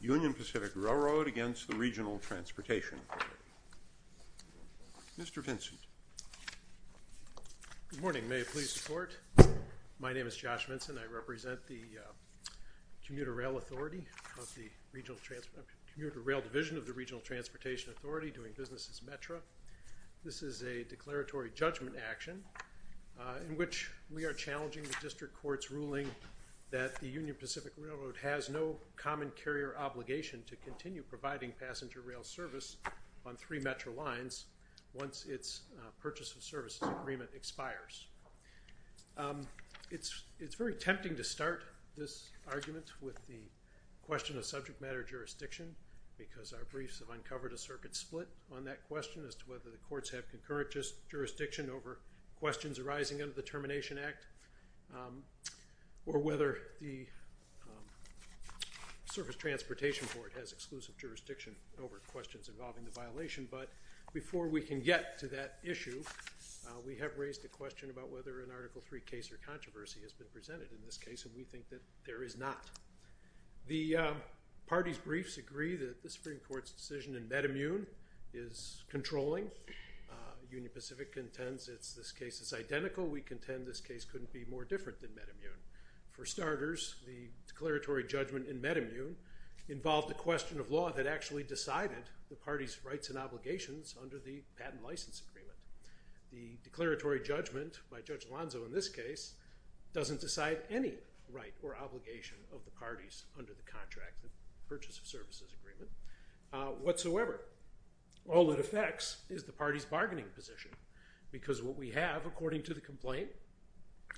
Union Pacific Railroad against the regional transportation. Mr. Vincent. Good morning may I please support. My name is Josh Vincent I represent the Commuter Rail Authority of the Regional Transportation, Commuter Rail Division of the Regional Transportation Authority doing business as METRA. This is a declaratory judgment action in which we are challenging the district court's no common carrier obligation to continue providing passenger rail service on three METRA lines once its purchase of services agreement expires. It's it's very tempting to start this argument with the question of subject matter jurisdiction because our briefs have uncovered a circuit split on that question as to whether the courts have concurrent just jurisdiction over questions arising under the Termination Act or whether the Surface Transportation Board has exclusive jurisdiction over questions involving the violation but before we can get to that issue we have raised a question about whether an article 3 case or controversy has been presented in this case and we think that there is not. The party's briefs agree that the Supreme Court's decision in METAMUNE is controlling. Union Pacific contends it's this case is identical. We contend this case couldn't be more different than METAMUNE. For starters the declaratory judgment in METAMUNE involved a question of law that actually decided the party's rights and obligations under the patent license agreement. The declaratory judgment by Judge Alonzo in this case doesn't decide any right or obligation of the parties under the contract purchase of services agreement whatsoever. All it affects is the party's have according to the complaint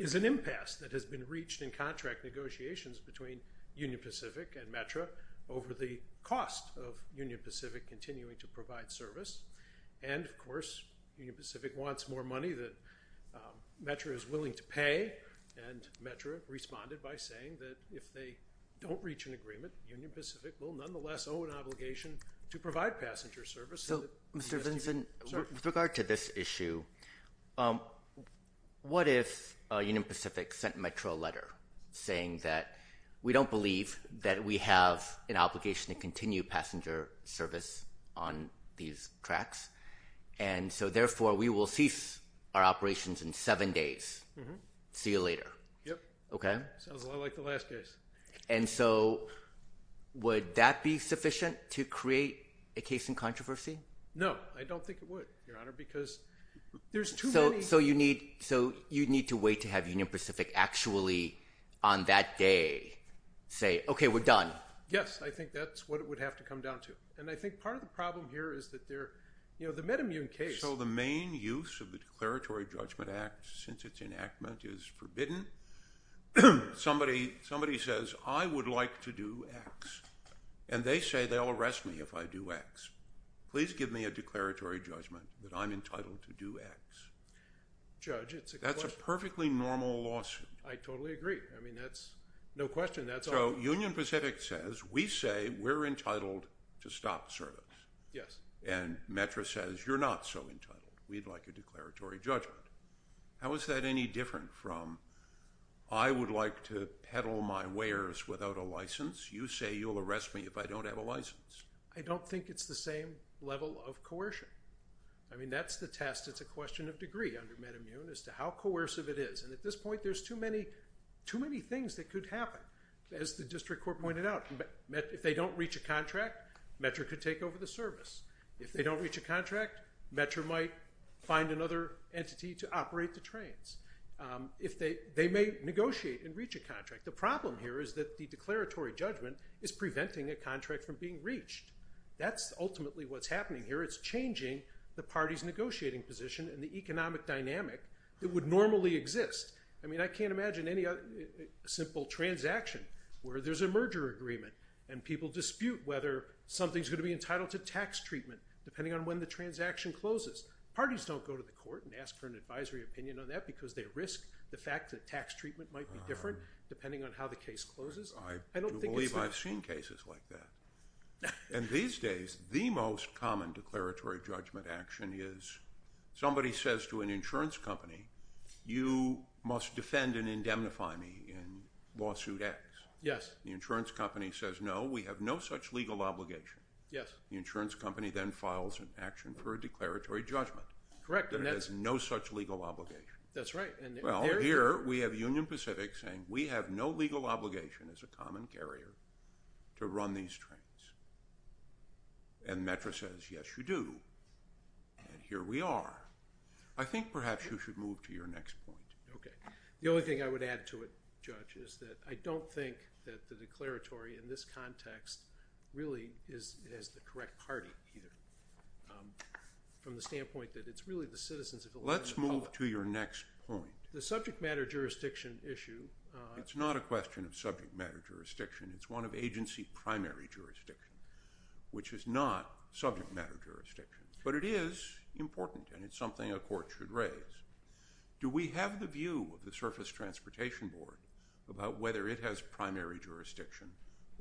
is an impasse that has been reached in contract negotiations between Union Pacific and METRA over the cost of Union Pacific continuing to provide service and of course Union Pacific wants more money that METRA is willing to pay and METRA responded by saying that if they don't reach an agreement Union Pacific will nonetheless owe an obligation to What if Union Pacific sent METRA a letter saying that we don't believe that we have an obligation to continue passenger service on these tracks and so therefore we will cease our operations in seven days. See you later. Yep. Okay. Sounds a lot like the last case. And so would that be sufficient to create a controversy? No I don't think it would your honor because there's too many. So you need so you need to wait to have Union Pacific actually on that day say okay we're done. Yes I think that's what it would have to come down to and I think part of the problem here is that they're you know the metamune case. So the main use of the declaratory judgment act since its enactment is forbidden. Somebody says I would like to do X and they say they'll arrest me if I do X. Please give me a declaratory judgment that I'm entitled to do X. Judge it's a that's a perfectly normal lawsuit. I totally agree I mean that's no question that's so Union Pacific says we say we're entitled to stop service. Yes. And METRA says you're not so entitled we'd like a declaratory judgment. How is that any different from I would like to peddle my wares without a license you say you'll arrest me if I don't have a license. I don't think it's the same level of coercion. I mean that's the test it's a question of degree under metamune as to how coercive it is and at this point there's too many too many things that could happen as the district court pointed out. If they don't reach a contract METRA could take over the service. If they don't reach a contract METRA might find another entity to operate the trains. If they they may negotiate and reach a contract. The problem here is that the declaratory judgment is preventing a contract from being reached. That's ultimately what's happening here it's changing the party's negotiating position and the economic dynamic that would normally exist. I mean I can't imagine any other simple transaction where there's a merger agreement and people dispute whether something's going to be entitled to tax treatment depending on when the transaction closes. Parties don't go to the court and ask for an advisory opinion on that because they risk the fact that tax treatment might be different depending on how the case closes. I believe I've seen cases like that and these days the most common declaratory judgment action is somebody says to an insurance company you must defend and indemnify me in lawsuit X. Yes. The insurance company says no we have no such legal obligation. Yes. The declaratory judgment. Correct. There is no such legal obligation. That's right. Well here we have Union Pacific saying we have no legal obligation as a common carrier to run these trains and METRA says yes you do and here we are. I think perhaps you should move to your next point. Okay the only thing I would add to it judge is that I don't think that the declaratory in this context really is as the correct party either from the standpoint that it's really the citizens. Let's move to your next point. The subject matter jurisdiction issue. It's not a question of subject matter jurisdiction it's one of agency primary jurisdiction which is not subject matter jurisdiction but it is important and it's something a court should raise. Do we have the view of the surface transportation board about whether it has primary jurisdiction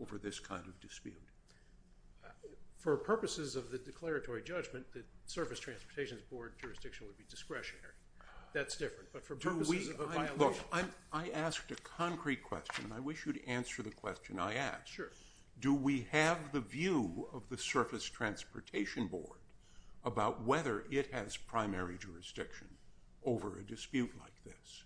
over this kind of dispute? For purposes of the declaratory judgment the surface transportation's board jurisdiction would be discretionary. That's different but for purposes of a violation. I asked a concrete question and I wish you'd answer the question I asked. Sure. Do we have the view of the surface transportation board about whether it has primary jurisdiction over a dispute like this?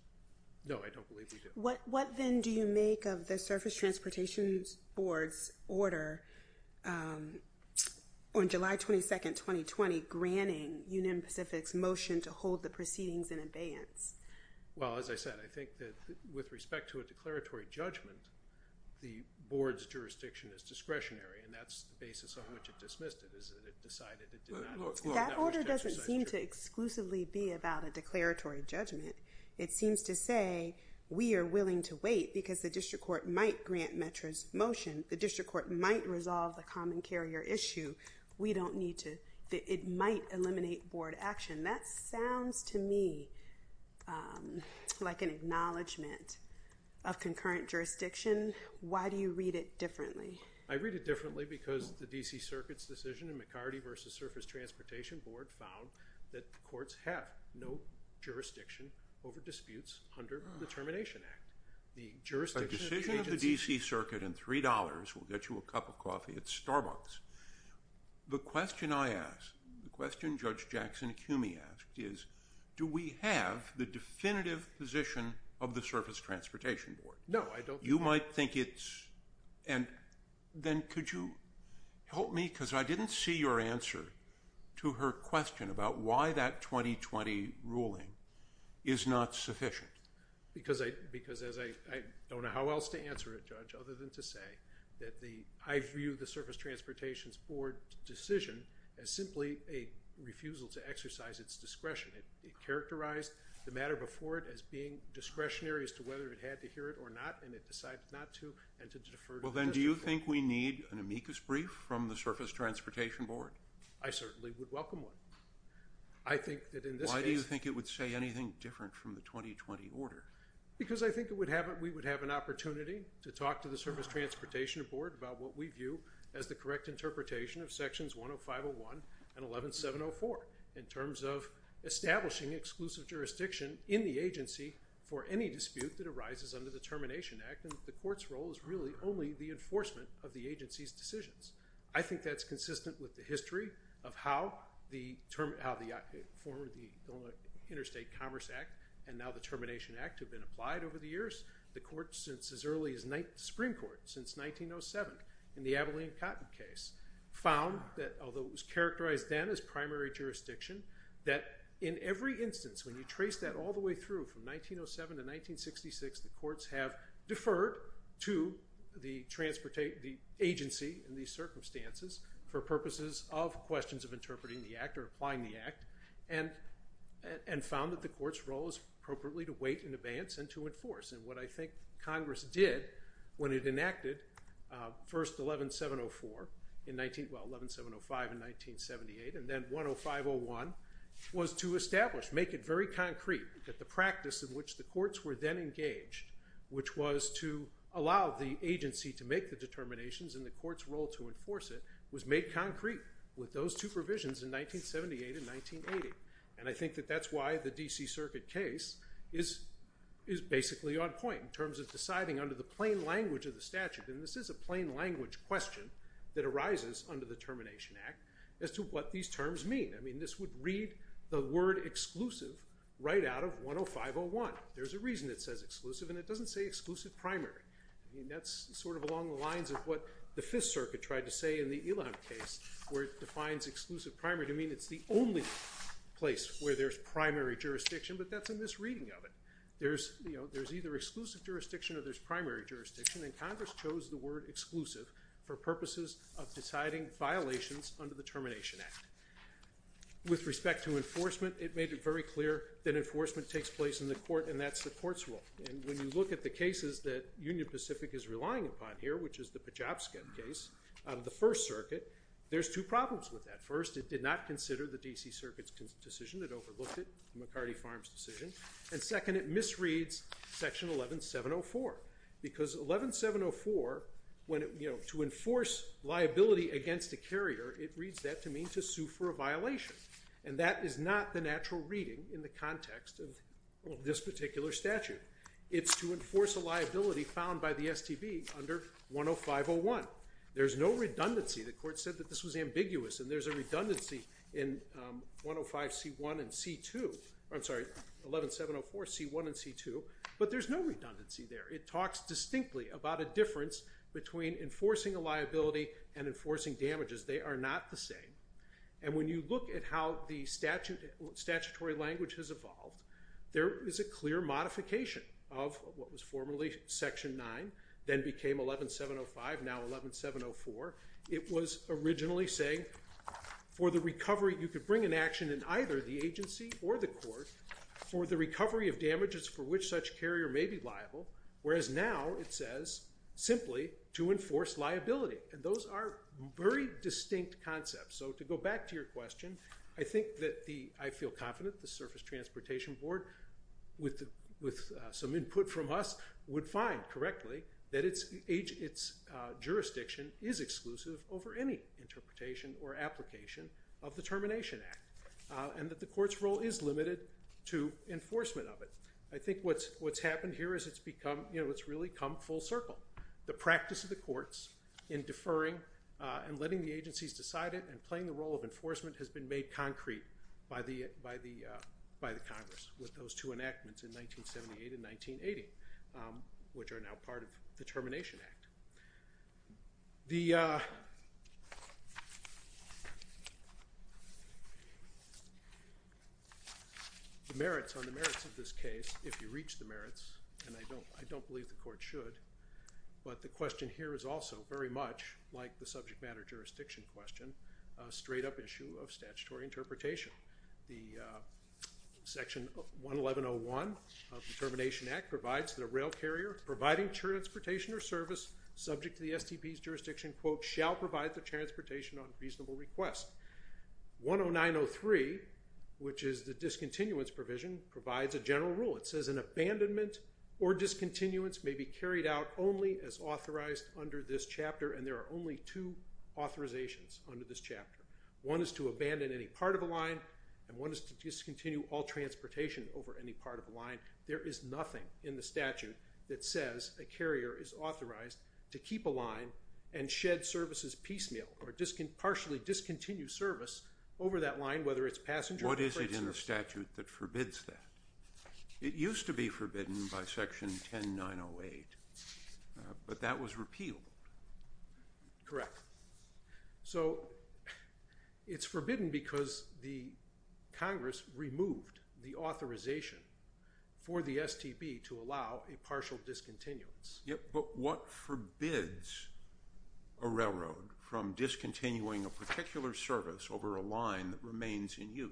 No I don't believe we do. What what then do you make of the surface transportation's board's order on July 22nd 2020 granting Union Pacific's motion to hold the proceedings in abeyance? Well as I said I think that with respect to a declaratory judgment the board's jurisdiction is discretionary and that's the basis on which it dismissed it. That order doesn't seem to exclusively be about a declaratory judgment. It seems to say we are willing to wait because the district court might grant Metro's motion. The district court might resolve the common carrier issue. We don't need to it might eliminate board action. That sounds to me like an acknowledgment of concurrent jurisdiction. Why do you read it differently? I read it differently because the DC Circuit's decision in McCarty versus surface transportation board found that the courts have no disputes under the Termination Act. The jurisdiction of the agency. A decision of the DC Circuit and three dollars will get you a cup of coffee at Starbucks. The question I asked, the question Judge Jackson Cumey asked is do we have the definitive position of the surface transportation board? No I don't. You might think it's and then could you help me because I didn't see your answer to her question about why that 2020 ruling is not sufficient. Because I because as I don't know how else to answer it judge other than to say that the I view the surface transportation's board decision as simply a refusal to exercise its discretion. It characterized the matter before it as being discretionary as to whether it had to hear it or not and it decided not to and to defer. Well then do you think we need an amicus brief from the surface transportation board? I certainly would welcome one. I think that in this case. Why do you think it would say anything different from the 2020 order? Because I think it would have it we would have an opportunity to talk to the surface transportation board about what we view as the correct interpretation of sections 10501 and 11704 in terms of establishing exclusive jurisdiction in the agency for any dispute that arises under the Termination Act and the court's role is really only the enforcement of the consistent with the history of how the term how the form of the Interstate Commerce Act and now the Termination Act have been applied over the years. The court since as early as night Supreme Court since 1907 in the Abilene Cotton case found that although it was characterized then as primary jurisdiction that in every instance when you trace that all the way through from 1907 to 1966 the courts have deferred to the transportation the agency in these circumstances for purposes of questions of interpreting the act or applying the act and and found that the court's role is appropriately to wait in advance and to enforce and what I think Congress did when it enacted first 11704 in 19 well 11705 in 1978 and then 10501 was to establish make it very concrete that the practice in which the courts were then engaged which was to allow the agency to make the determinations in the court's role to enforce it was made concrete with those two provisions in 1978 in 1980 and I think that that's why the DC Circuit case is is basically on point in terms of deciding under the plain language of the statute and this is a plain language question that arises under the Termination Act as to what these terms mean I mean this would read the word exclusive right out of 10501 there's a reason it says exclusive and it doesn't say exclusive primary and that's sort of along the lines of what the Fifth Circuit tried to say in the Ilan case where it defines exclusive primary to mean it's the only place where there's primary jurisdiction but that's in this reading of it there's you know there's either exclusive jurisdiction or there's primary jurisdiction and Congress chose the word exclusive for purposes of deciding violations under the Termination Act with respect to enforcement it made it very clear that enforcement takes place in the court and that's the court's role and when you look at the cases that Union Pacific is relying upon here which is the Pachovsky case out of the First Circuit there's two problems with that first it did not consider the DC Circuit's decision that overlooked it McCarty Farms decision and second it misreads section 11704 because 11704 when it you know to enforce liability against a carrier it reads that to mean to sue for a violation and that is not the natural reading in the context of this particular statute it's to enforce a liability found by the STB under 10501 there's no redundancy the court said that this was ambiguous and there's a redundancy in 105 c1 and c2 I'm sorry 11704 c1 and c2 but there's no redundancy there it talks distinctly about a difference between enforcing a liability and enforcing damages they are not the same and when you look at how the statute statutory language has evolved there is a clear modification of what was formerly section 9 then became 11705 now 11704 it was originally saying for the recovery you could bring an action in either the agency or the court for the recovery of damages for which such carrier may be liable whereas now it says simply to enforce liability and those are very distinct concepts so to go back to your question I think that the I feel confident the Surface Transportation Board with with some input from us would find correctly that it's age its jurisdiction is exclusive over any interpretation or application of the Termination Act and that the court's role is limited to enforcement of it I think what's what's happened here is it's become you know it's really come full circle the practice of the and letting the agencies decide it and playing the role of enforcement has been made concrete by the by the by the Congress with those two enactments in 1978 and 1980 which are now part of the Termination Act the merits on the merits of this case if you reach the merits and I don't I don't believe the much like the subject matter jurisdiction question straight-up issue of statutory interpretation the section 111 0 1 of the Termination Act provides that a rail carrier providing transportation or service subject to the STP's jurisdiction quote shall provide the transportation on reasonable request 10903 which is the discontinuance provision provides a general rule it says an abandonment or discontinuance may be carried out only as authorized under this chapter and there are only two authorizations under this chapter one is to abandon any part of a line and one is to discontinue all transportation over any part of a line there is nothing in the statute that says a carrier is authorized to keep a line and shed services piecemeal or discon partially discontinue service over that line whether it's passenger what is it in the statute that forbids that it used to be forbidden by section 10908 but that was repealed correct so it's forbidden because the Congress removed the authorization for the STP to allow a partial discontinuance yep but what forbids a railroad from discontinuing a particular service over a line that remains in use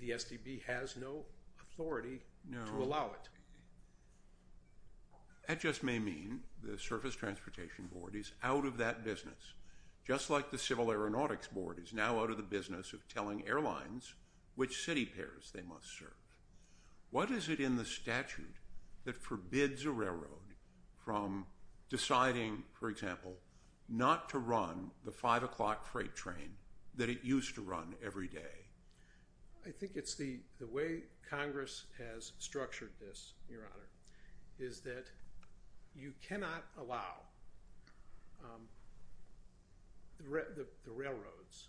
the STP has no authority no allow it that just may mean the Surface Transportation Board is out of that business just like the Civil Aeronautics Board is now out of the business of telling airlines which city pairs they must serve what is it in the statute that forbids a railroad from deciding for example not to run the five o'clock freight train that it used to run every day I think it's the the way Congress has structured this your honor is that you cannot allow the railroads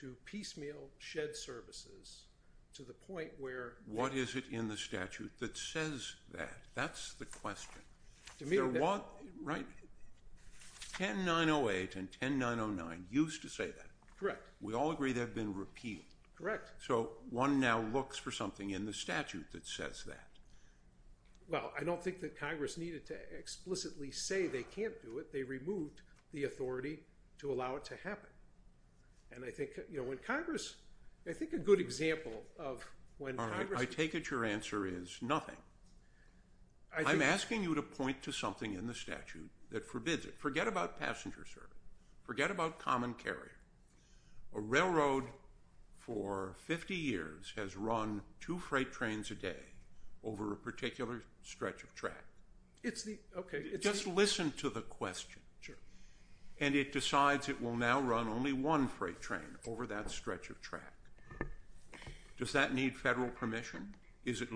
to piecemeal shed services to the point where what is it in the statute that says that that's the question right 10908 and 10909 used to say that correct we all agree they've been repealed correct so one now looks for something in the statute that says that well I don't think that Congress needed to explicitly say they can't do it they removed the authority to allow it to happen and I think you know when Congress I think a good example of when I take it your answer is nothing I'm asking you to point to something in the statute that forbids it forget about passenger service forget about common carrier a railroad for 50 years has run two freight trains a day over a particular stretch of track it's the okay just listen to the question sure and it decides it will now run only one freight train over that stretch of track does that need federal permission is it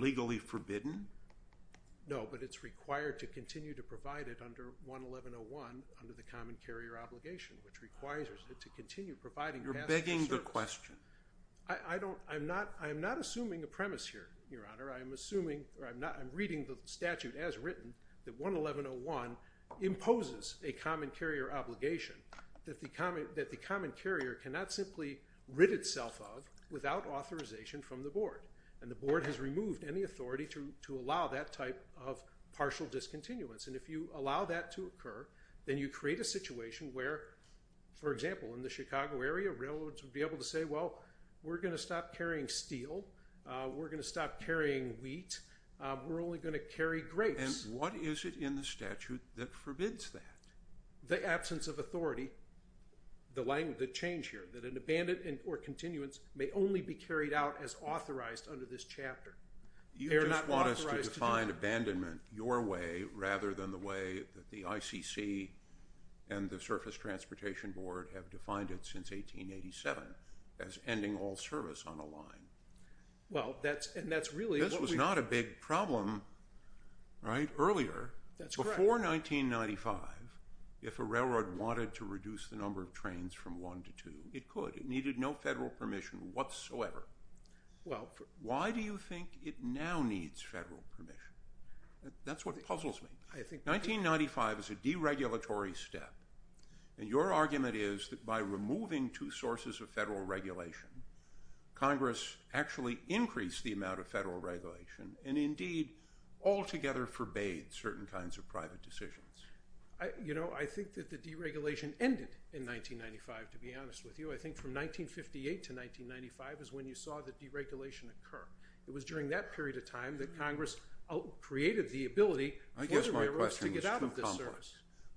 required to continue to provide it under 1101 under the common carrier obligation which requires it to continue providing you're begging the question I don't I'm not I'm not assuming a premise here your honor I am assuming or I'm not I'm reading the statute as written that 1101 imposes a common carrier obligation that the common that the common carrier cannot simply rid itself of without authorization from the board and the board has removed any authority to allow that type of partial discontinuance and if you allow that to occur then you create a situation where for example in the Chicago area railroads would be able to say well we're gonna stop carrying steel we're gonna stop carrying wheat we're only going to carry grapes what is it in the statute that forbids that the absence of authority the language that change here that an abandoned and or continuance may only be carried out as authorized under this chapter you're not find abandonment your way rather than the way that the ICC and the surface transportation board have defined it since 1887 as ending all service on a line well that's and that's really this was not a big problem right earlier that's before 1995 if a railroad wanted to reduce the number of trains from one to two it could it needed no federal permission whatsoever well why do you think it now needs federal permission that's what puzzles me I think 1995 is a deregulatory step and your argument is that by removing two sources of federal regulation Congress actually increased the amount of federal regulation and indeed all together forbade certain kinds of private decisions I you know I think that the deregulation ended in 1995 to be honest with you I think from during that period of time that Congress created the ability I guess my question is to get out of the service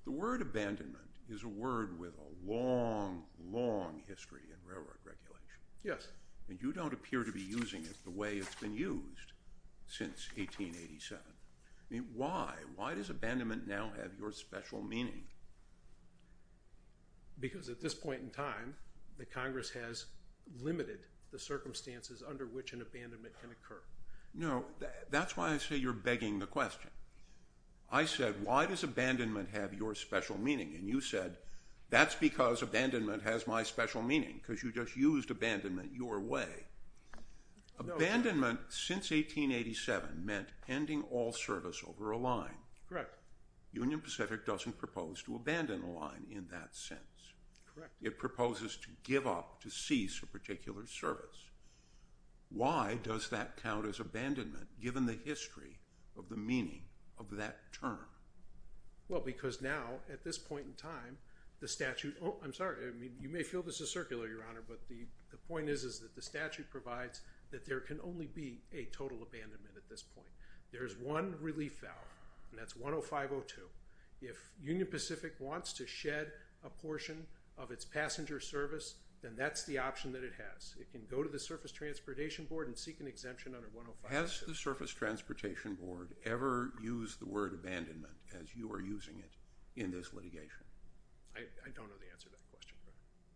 the word abandonment is a word with a long long history in railroad regulation yes and you don't appear to be using it the way it's been used since 1887 I mean why why does abandonment now have your special meaning because at this point in time the Congress has limited the no that's why I say you're begging the question I said why does abandonment have your special meaning and you said that's because abandonment has my special meaning because you just used abandonment your way abandonment since 1887 meant pending all service over a line correct Union Pacific doesn't propose to abandon a line in that sense it proposes to give up to cease a abandonment given the history of the meaning of that term well because now at this point in time the statute oh I'm sorry I mean you may feel this is circular your honor but the the point is is that the statute provides that there can only be a total abandonment at this point there is one relief valve and that's 105 oh two if Union Pacific wants to shed a portion of its passenger service then that's the option that it has it can go to the surface transportation board and seek an exemption under one has the surface transportation board ever used the word abandonment as you are using it in this litigation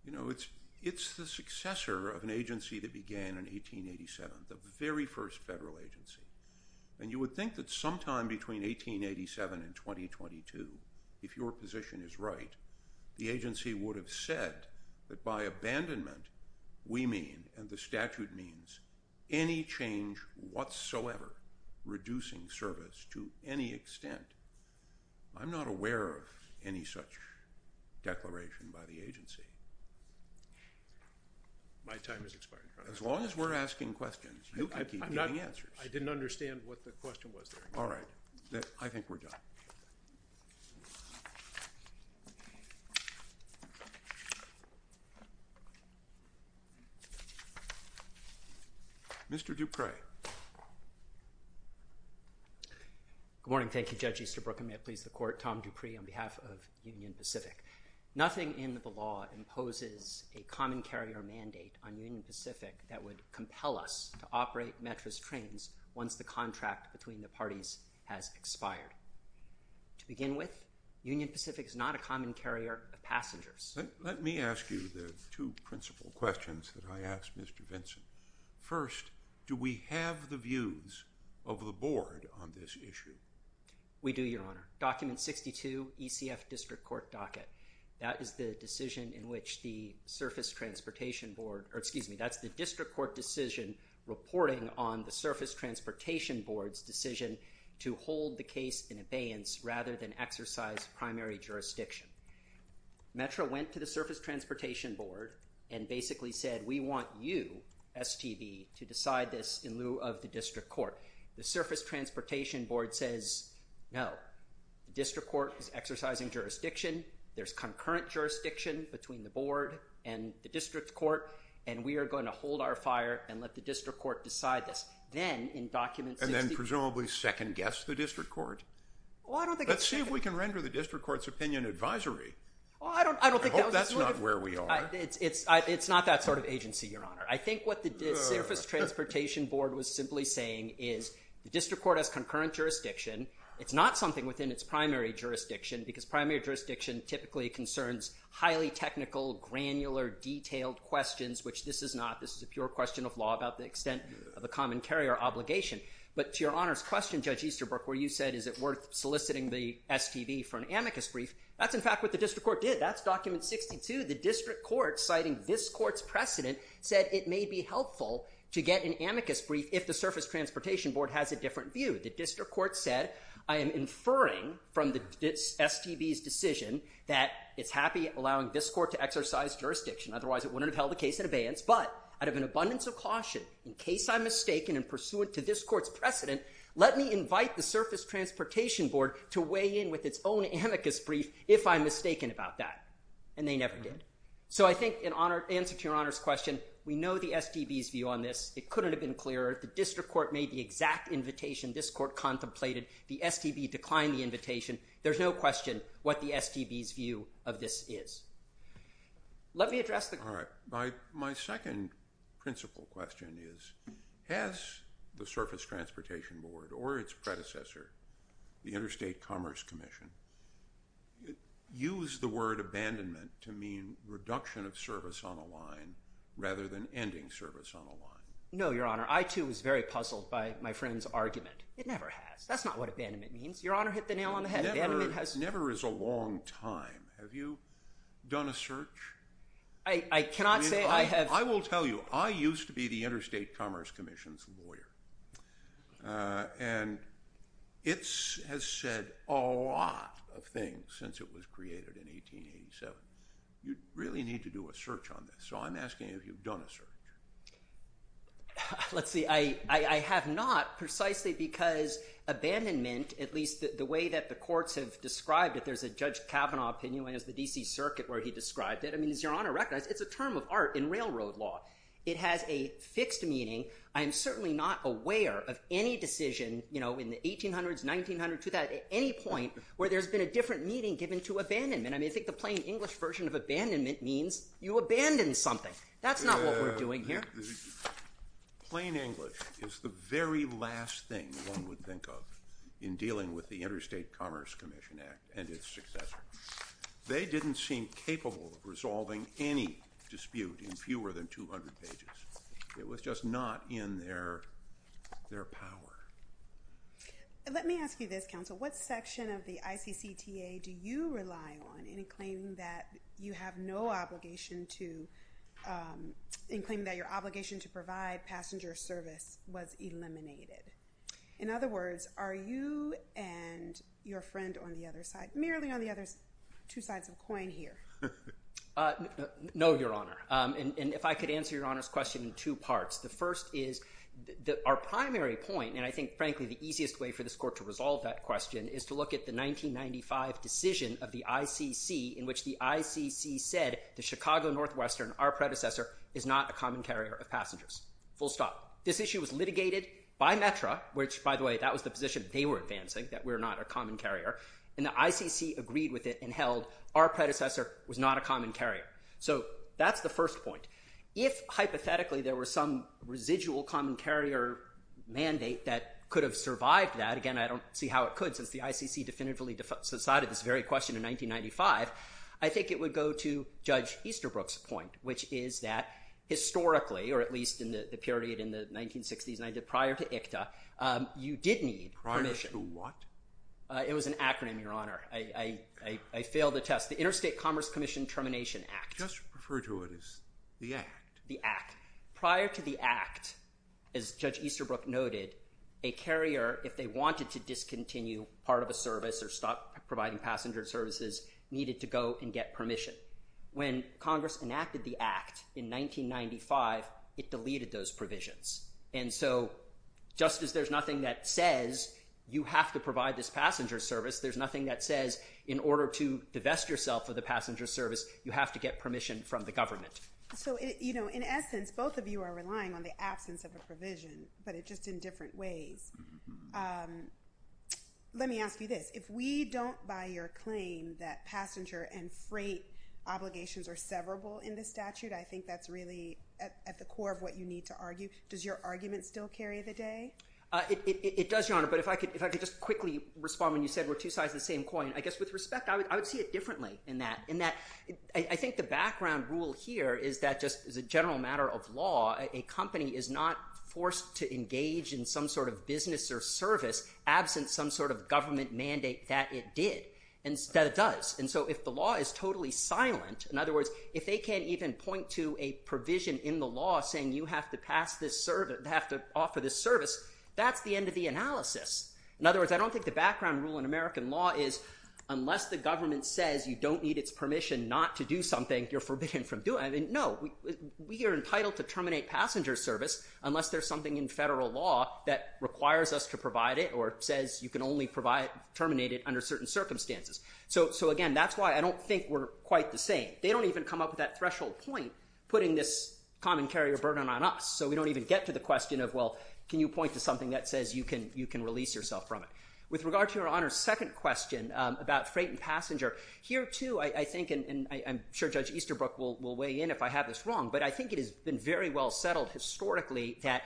you know it's it's the successor of an agency that began in 1887 the very first federal agency and you would think that sometime between 1887 in 2022 if your position is right the agency would have said that by means any change whatsoever reducing service to any extent I'm not aware of any such declaration by the agency as long as we're asking questions I didn't understand what the question was all right I think we're done mr. Dupree good morning thank you judges to Brooklyn may please the court Tom Dupree on behalf of Union Pacific nothing in the law imposes a common carrier mandate on Union Pacific that would compel us to operate mattress trains once the contract between the parties has expired to begin with Union Pacific is not a common carrier of passengers let me ask you the two first do we have the views of the board on this issue we do your honor document 62 ECF district court docket that is the decision in which the surface transportation board or excuse me that's the district court decision reporting on the surface transportation boards decision to hold the case in abeyance rather than exercise primary jurisdiction Metro went to the surface transportation board and basically said we want you STV to decide this in lieu of the district court the surface transportation board says no district court is exercising jurisdiction there's concurrent jurisdiction between the board and the district court and we are going to hold our fire and let the district court decide this then in documents and then presumably second guess the district court well I don't think let's see if we can render the where we are it's it's it's not that sort of agency I think what the surface transportation board was simply saying is district court as concurrent jurisdiction it's not something within its primary jurisdiction because primary jurisdiction typically concerns highly technical granular detailed questions which this is not this is a pure question of law about the extent of the common carrier obligation but your honors question judge Easterbrook where you said is it worth soliciting the STV for an amicus brief that's in fact what district court did that's document 62 the district court citing this court's precedent said it may be helpful to get an amicus brief if the surface transportation board has a different view the district court said I am inferring from the STVs decision that it's happy allowing this court to exercise jurisdiction otherwise it wouldn't have held the case in abeyance but out of an abundance of caution in case I'm mistaken and pursuant to this court's precedent let me invite the surface transportation board to weigh in with its own amicus brief if I'm mistaken about that and they never did so I think in honor answer to your honors question we know the STVs view on this it couldn't have been clearer if the district court made the exact invitation this court contemplated the STV declined the invitation there's no question what the STVs view of this is let me address the all right by my second principle question is has the surface transportation board or its Commission use the word abandonment to mean reduction of service on a line rather than ending service on a line no your honor I too was very puzzled by my friend's argument it never has that's not what abandonment means your honor hit the nail on the head has never is a long time have you done a search I cannot say I have I will tell you I used to be the Interstate Commerce Commission's a lot of things since it was created in 1887 you really need to do a search on this so I'm asking if you've done a search let's see I I have not precisely because abandonment at least the way that the courts have described it there's a judge Kavanaugh opinion as the DC Circuit where he described it I mean is your honor recognized it's a term of art in railroad law it has a fixed meaning I am certainly not aware of any decision you know in the 1800s 1900 to any point where there's been a different meaning given to abandonment I mean I think the plain English version of abandonment means you abandon something that's not what we're doing here plain English is the very last thing one would think of in dealing with the Interstate Commerce Commission Act and its successor they didn't seem capable of resolving any dispute in fewer than 200 pages it was just not in their their power let me ask you this counsel what section of the ICC TA do you rely on any claim that you have no obligation to in claim that your obligation to provide passenger service was eliminated in other words are you and your friend on the other side merely on the other two sides of coin here no your honor and if I could answer your honors question in two parts the first is that our primary point and I think frankly the easiest way for this court to resolve that question is to look at the 1995 decision of the ICC in which the ICC said the Chicago Northwestern our predecessor is not a common carrier of passengers full stop this issue was litigated by Metra which by the way that was the position they were advancing that we're not a common carrier so that's the first point if hypothetically there were some residual common carrier mandate that could have survived that again I don't see how it could since the ICC definitively decided this very question in 1995 I think it would go to judge Easterbrook's point which is that historically or at least in the period in the 1960s and I did prior to ICTA you did need prior to what it was an acronym your honor I failed the test the Interstate Commerce Commission termination act just refer to it as the act the act prior to the act as judge Easterbrook noted a carrier if they wanted to discontinue part of a service or stop providing passenger services needed to go and get permission when Congress enacted the act in 1995 it says you have to provide this passenger service there's nothing that says in order to divest yourself of the passenger service you have to get permission from the government so it you know in essence both of you are relying on the absence of a provision but it just in different ways let me ask you this if we don't buy your claim that passenger and freight obligations are severable in the statute I think that's really at the core of what you need to but if I could if I could just quickly respond when you said we're two sides of the same coin I guess with respect I would I would see it differently in that in that I think the background rule here is that just as a general matter of law a company is not forced to engage in some sort of business or service absent some sort of government mandate that it did and that it does and so if the law is totally silent in other words if they can't even point to a provision in the law saying you have to pass this service have to offer this service that's the end of the analysis in other words I don't think the background rule in American law is unless the government says you don't need its permission not to do something you're forbidden from doing it no we are entitled to terminate passenger service unless there's something in federal law that requires us to provide it or says you can only provide terminate it under certain circumstances so so again that's why I don't think we're quite the same they don't even come up with that threshold point putting this common carrier burden on us so we don't even get to the question of well can you point to something that says you can you can release yourself from it. With regard to your honor's second question about freight and passenger here too I think and I'm sure Judge Easterbrook will weigh in if I have this wrong but I think it has been very well settled historically that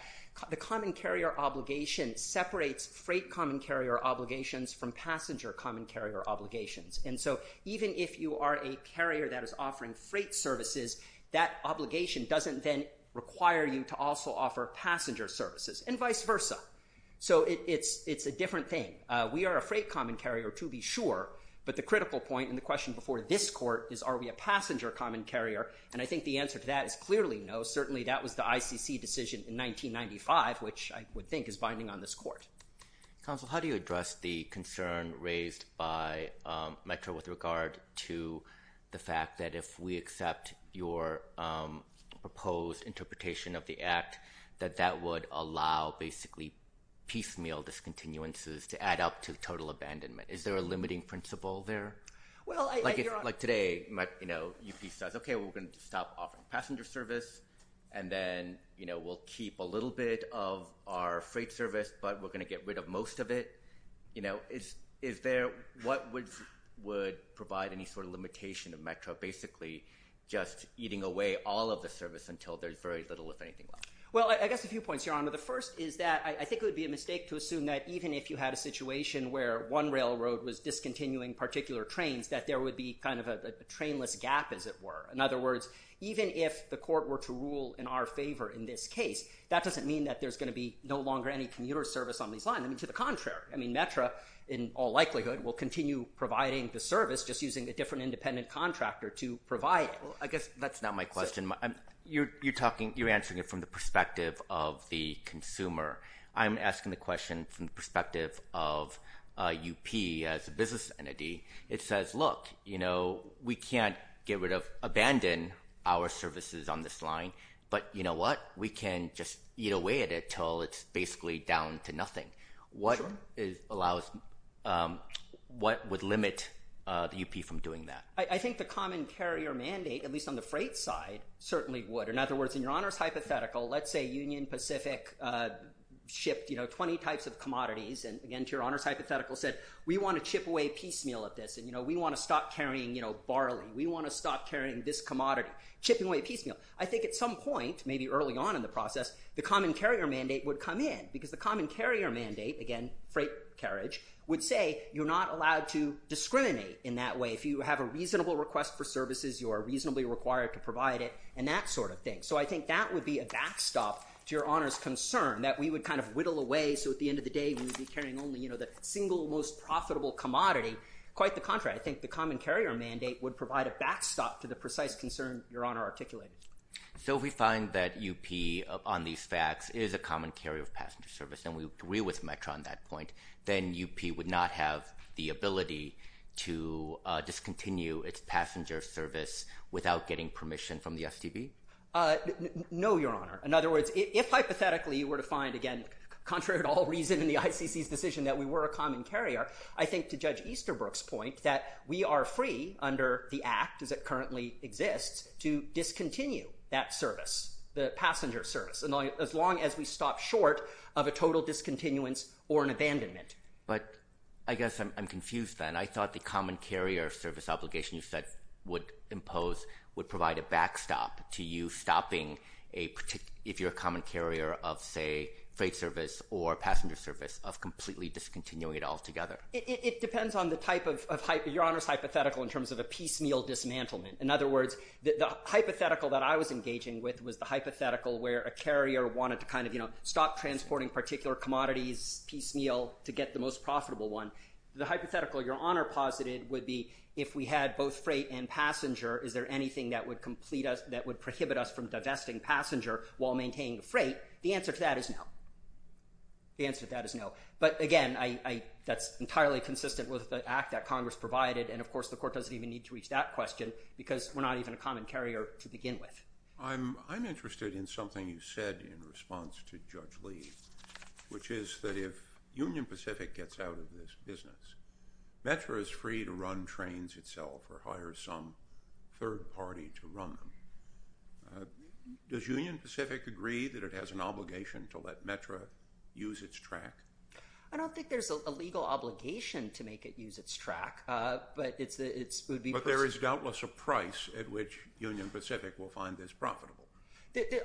the common carrier obligation separates freight common carrier obligations from passenger common carrier obligations and so even if you are a carrier that is offering freight services that obligation doesn't then require you to also offer passenger services and vice versa so it's it's a different thing we are a freight common carrier to be sure but the critical point and the question before this court is are we a passenger common carrier and I think the answer to that is clearly no certainly that was the ICC decision in 1995 which I would think is binding on this court. Counsel how do you address the concern raised by Metro with regard to the fact that if we accept your proposed interpretation of the act that that would allow basically piecemeal discontinuances to add up to total abandonment is there a limiting principle there? Well like today you know UP says okay we're gonna stop offering passenger service and then you know we'll keep a little bit of our freight service but we're gonna get rid of most of it you know is is there what would would provide any sort of limitation of Metro basically just eating away all of the service until there's very little if you point your honor the first is that I think it would be a mistake to assume that even if you had a situation where one railroad was discontinuing particular trains that there would be kind of a trainless gap as it were in other words even if the court were to rule in our favor in this case that doesn't mean that there's going to be no longer any commuter service on these lines I mean to the contrary I mean Metro in all likelihood will continue providing the service just using a different independent contractor to provide I guess that's not my question I'm you're you're talking you're the perspective of the consumer I'm asking the question from the perspective of UP as a business entity it says look you know we can't get rid of abandon our services on this line but you know what we can just eat away at it till it's basically down to nothing what is allows what would limit the UP from doing that I think the common carrier mandate at least on the freight side certainly would in other words in your honors hypothetical let's say Union Pacific shipped you know 20 types of commodities and again to your honors hypothetical said we want to chip away piecemeal at this and you know we want to stop carrying you know barley we want to stop carrying this commodity chipping away piecemeal I think at some point maybe early on in the process the common carrier mandate would come in because the common carrier mandate again freight carriage would say you're not allowed to discriminate in that way if you have a reasonable request for services you are reasonably required to provide it and that sort of thing so I think that would be a backstop to your honors concern that we would kind of whittle away so at the end of the day we would be carrying only you know the single most profitable commodity quite the contrary I think the common carrier mandate would provide a backstop to the precise concern your honor articulated so if we find that UP upon these facts is a common carrier of passenger service and we agree with Metro on that point then UP would not have the ability to discontinue its passenger service without getting permission from the STB no your honor in other words if hypothetically you were to find again contrary to all reason in the ICC's decision that we were a common carrier I think to judge Easterbrook's point that we are free under the act as it currently exists to discontinue that service the passenger service and as long as we stop short of a total discontinuance or an abandonment but I guess I'm confused then I thought the would provide a backstop to you stopping a particular if you're a common carrier of say freight service or passenger service of completely discontinuing it altogether it depends on the type of hype your honors hypothetical in terms of a piecemeal dismantlement in other words the hypothetical that I was engaging with was the hypothetical where a carrier wanted to kind of you know stop transporting particular commodities piecemeal to get the most profitable one the hypothetical your honor posited would be if we had both freight and passenger is there anything that would complete us that would prohibit us from divesting passenger while maintaining the freight the answer to that is now the answer that is no but again I that's entirely consistent with the act that Congress provided and of course the court doesn't even need to reach that question because we're not even a common carrier to begin with I'm I'm interested in something you said in response to judge Lee which is that if Union Pacific gets out of this business Metro is free to run trains itself or requires some third party to run them does Union Pacific agree that it has an obligation to let Metro use its track I don't think there's a legal obligation to make it use its track but it's it's would be but there is doubtless a price at which Union Pacific will find this profitable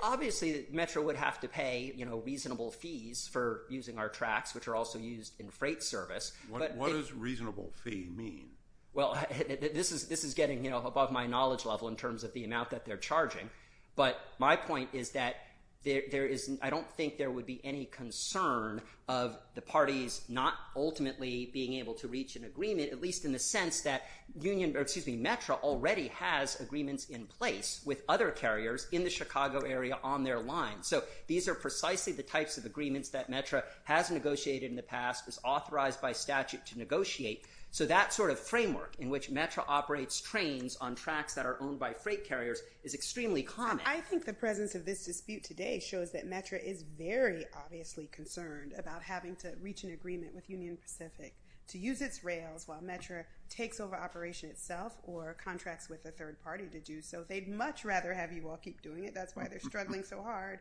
obviously Metro would have to pay you know reasonable fees for using our tracks which are also used in freight service but what is reasonable fee mean well this is this is getting you know above my knowledge level in terms of the amount that they're charging but my point is that there isn't I don't think there would be any concern of the parties not ultimately being able to reach an agreement at least in the sense that Union Pacific Metro already has agreements in place with other carriers in the Chicago area on their line so these are precisely the types of by statute to negotiate so that sort of framework in which Metro operates trains on tracks that are owned by freight carriers is extremely common I think the presence of this dispute today shows that Metro is very obviously concerned about having to reach an agreement with Union Pacific to use its rails while Metro takes over operation itself or contracts with a third party to do so they'd much rather have you all keep doing it that's why they're struggling so hard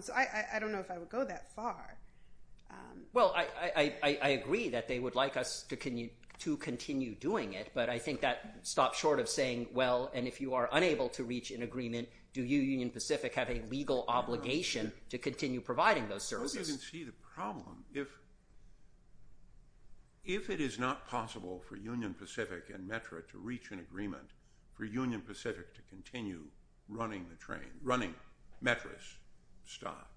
so I I don't know if I would go that far well I I agree that they would like us to continue to continue doing it but I think that stops short of saying well and if you are unable to reach an agreement do you Union Pacific have a legal obligation to continue providing those services you can see the problem if if it is not possible for Union Pacific and Metro to reach an agreement for Union Pacific to continue running the train running mattress stock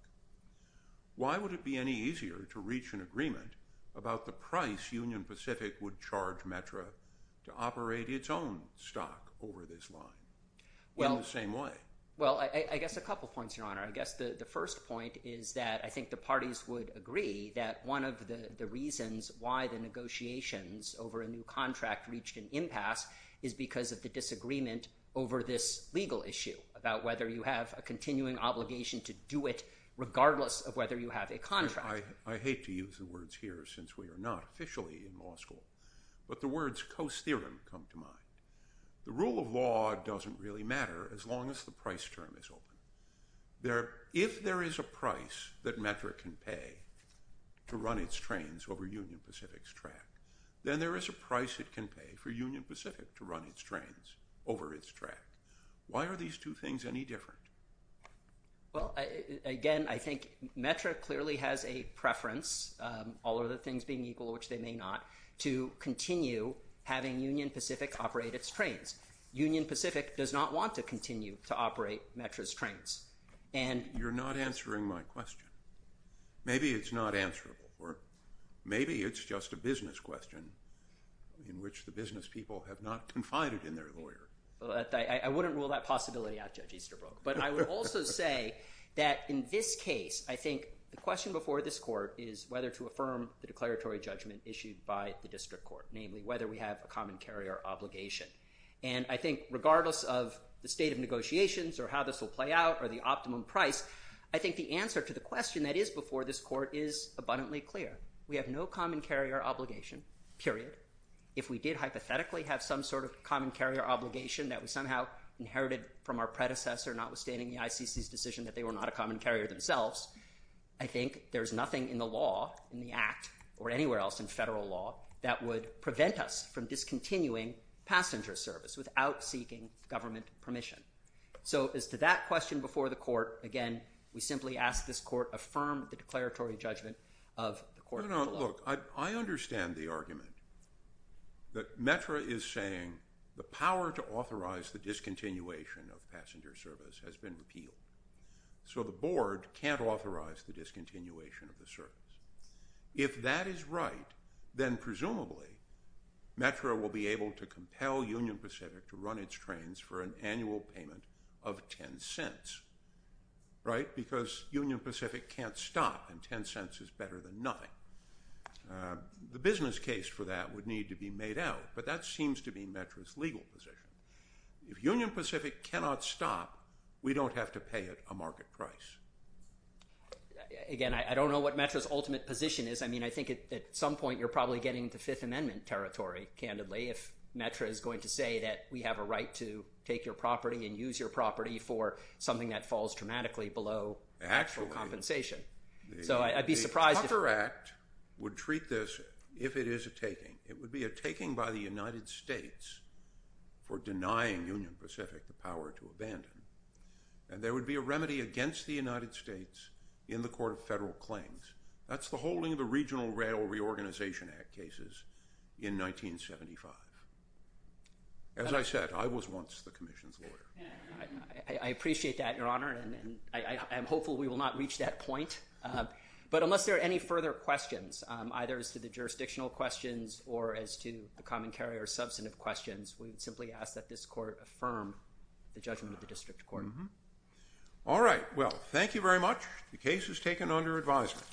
why would it be any easier to reach an agreement about the price Union Pacific would charge Metro to operate its own stock over this line well the same way well I guess a couple points your honor I guess the the first point is that I think the parties would agree that one of the the reasons why the negotiations over a new contract reached an impasse is because of the disagreement over this legal issue about whether you have a continuing obligation to do it regardless of whether you have a contract I hate to use the words here since we are not officially in law school but the words Coase theorem come to mind the rule of law doesn't really matter as long as the price term is open there if there is a price that metric can pay to run its trains over Union Pacific's track then there is a price it can pay for Union Pacific to run its trains over its track why are these two things any different well again I think metric clearly has a preference all other things being equal which they may not to continue having Union Pacific operate its trains Union Pacific does not want to continue to operate mattress trains and you're not answering my just a business question in which the business people have not confided in their lawyer I wouldn't rule that possibility out judge Easterbrook but I would also say that in this case I think the question before this court is whether to affirm the declaratory judgment issued by the district court namely whether we have a common carrier obligation and I think regardless of the state of negotiations or how this will play out or the optimum price I think the answer to the question that is before this court is abundantly clear we have no common carrier obligation period if we did hypothetically have some sort of common carrier obligation that was somehow inherited from our predecessor notwithstanding the ICC's decision that they were not a common carrier themselves I think there's nothing in the law in the act or anywhere else in federal law that would prevent us from discontinuing passenger service without seeking government permission so as to that question before the court again we simply ask this court affirm the declaratory judgment of the I understand the argument that METRA is saying the power to authorize the discontinuation of passenger service has been repealed so the board can't authorize the discontinuation of the service if that is right then presumably METRA will be able to compel Union Pacific to run its trains for an annual payment of 10 cents right because Union Pacific can't stop and 10 cents is better than nothing the business case for that would need to be made out but that seems to be METRA's legal position if Union Pacific cannot stop we don't have to pay it a market price again I don't know what METRA's ultimate position is I mean I think at some point you're probably getting to Fifth Amendment territory candidly if METRA is going to say that we have a right to take your property and use your property for something that falls dramatically below actual compensation so I'd be surprised if the Tucker Act would treat this if it is a taking it would be a taking by the United States for denying Union Pacific the power to abandon and there would be a remedy against the United States in the Court of Federal Claims that's the holding of the Regional Rail Reorganization Act cases in 1975 as I said I was once the Commission's lawyer I appreciate that your honor and I am hopeful we will not reach that point but unless there are any further questions either as to the jurisdictional questions or as to the common carrier substantive questions we would simply ask that this court affirm the judgment of the district court all right well thank you very much the case is taken under advisement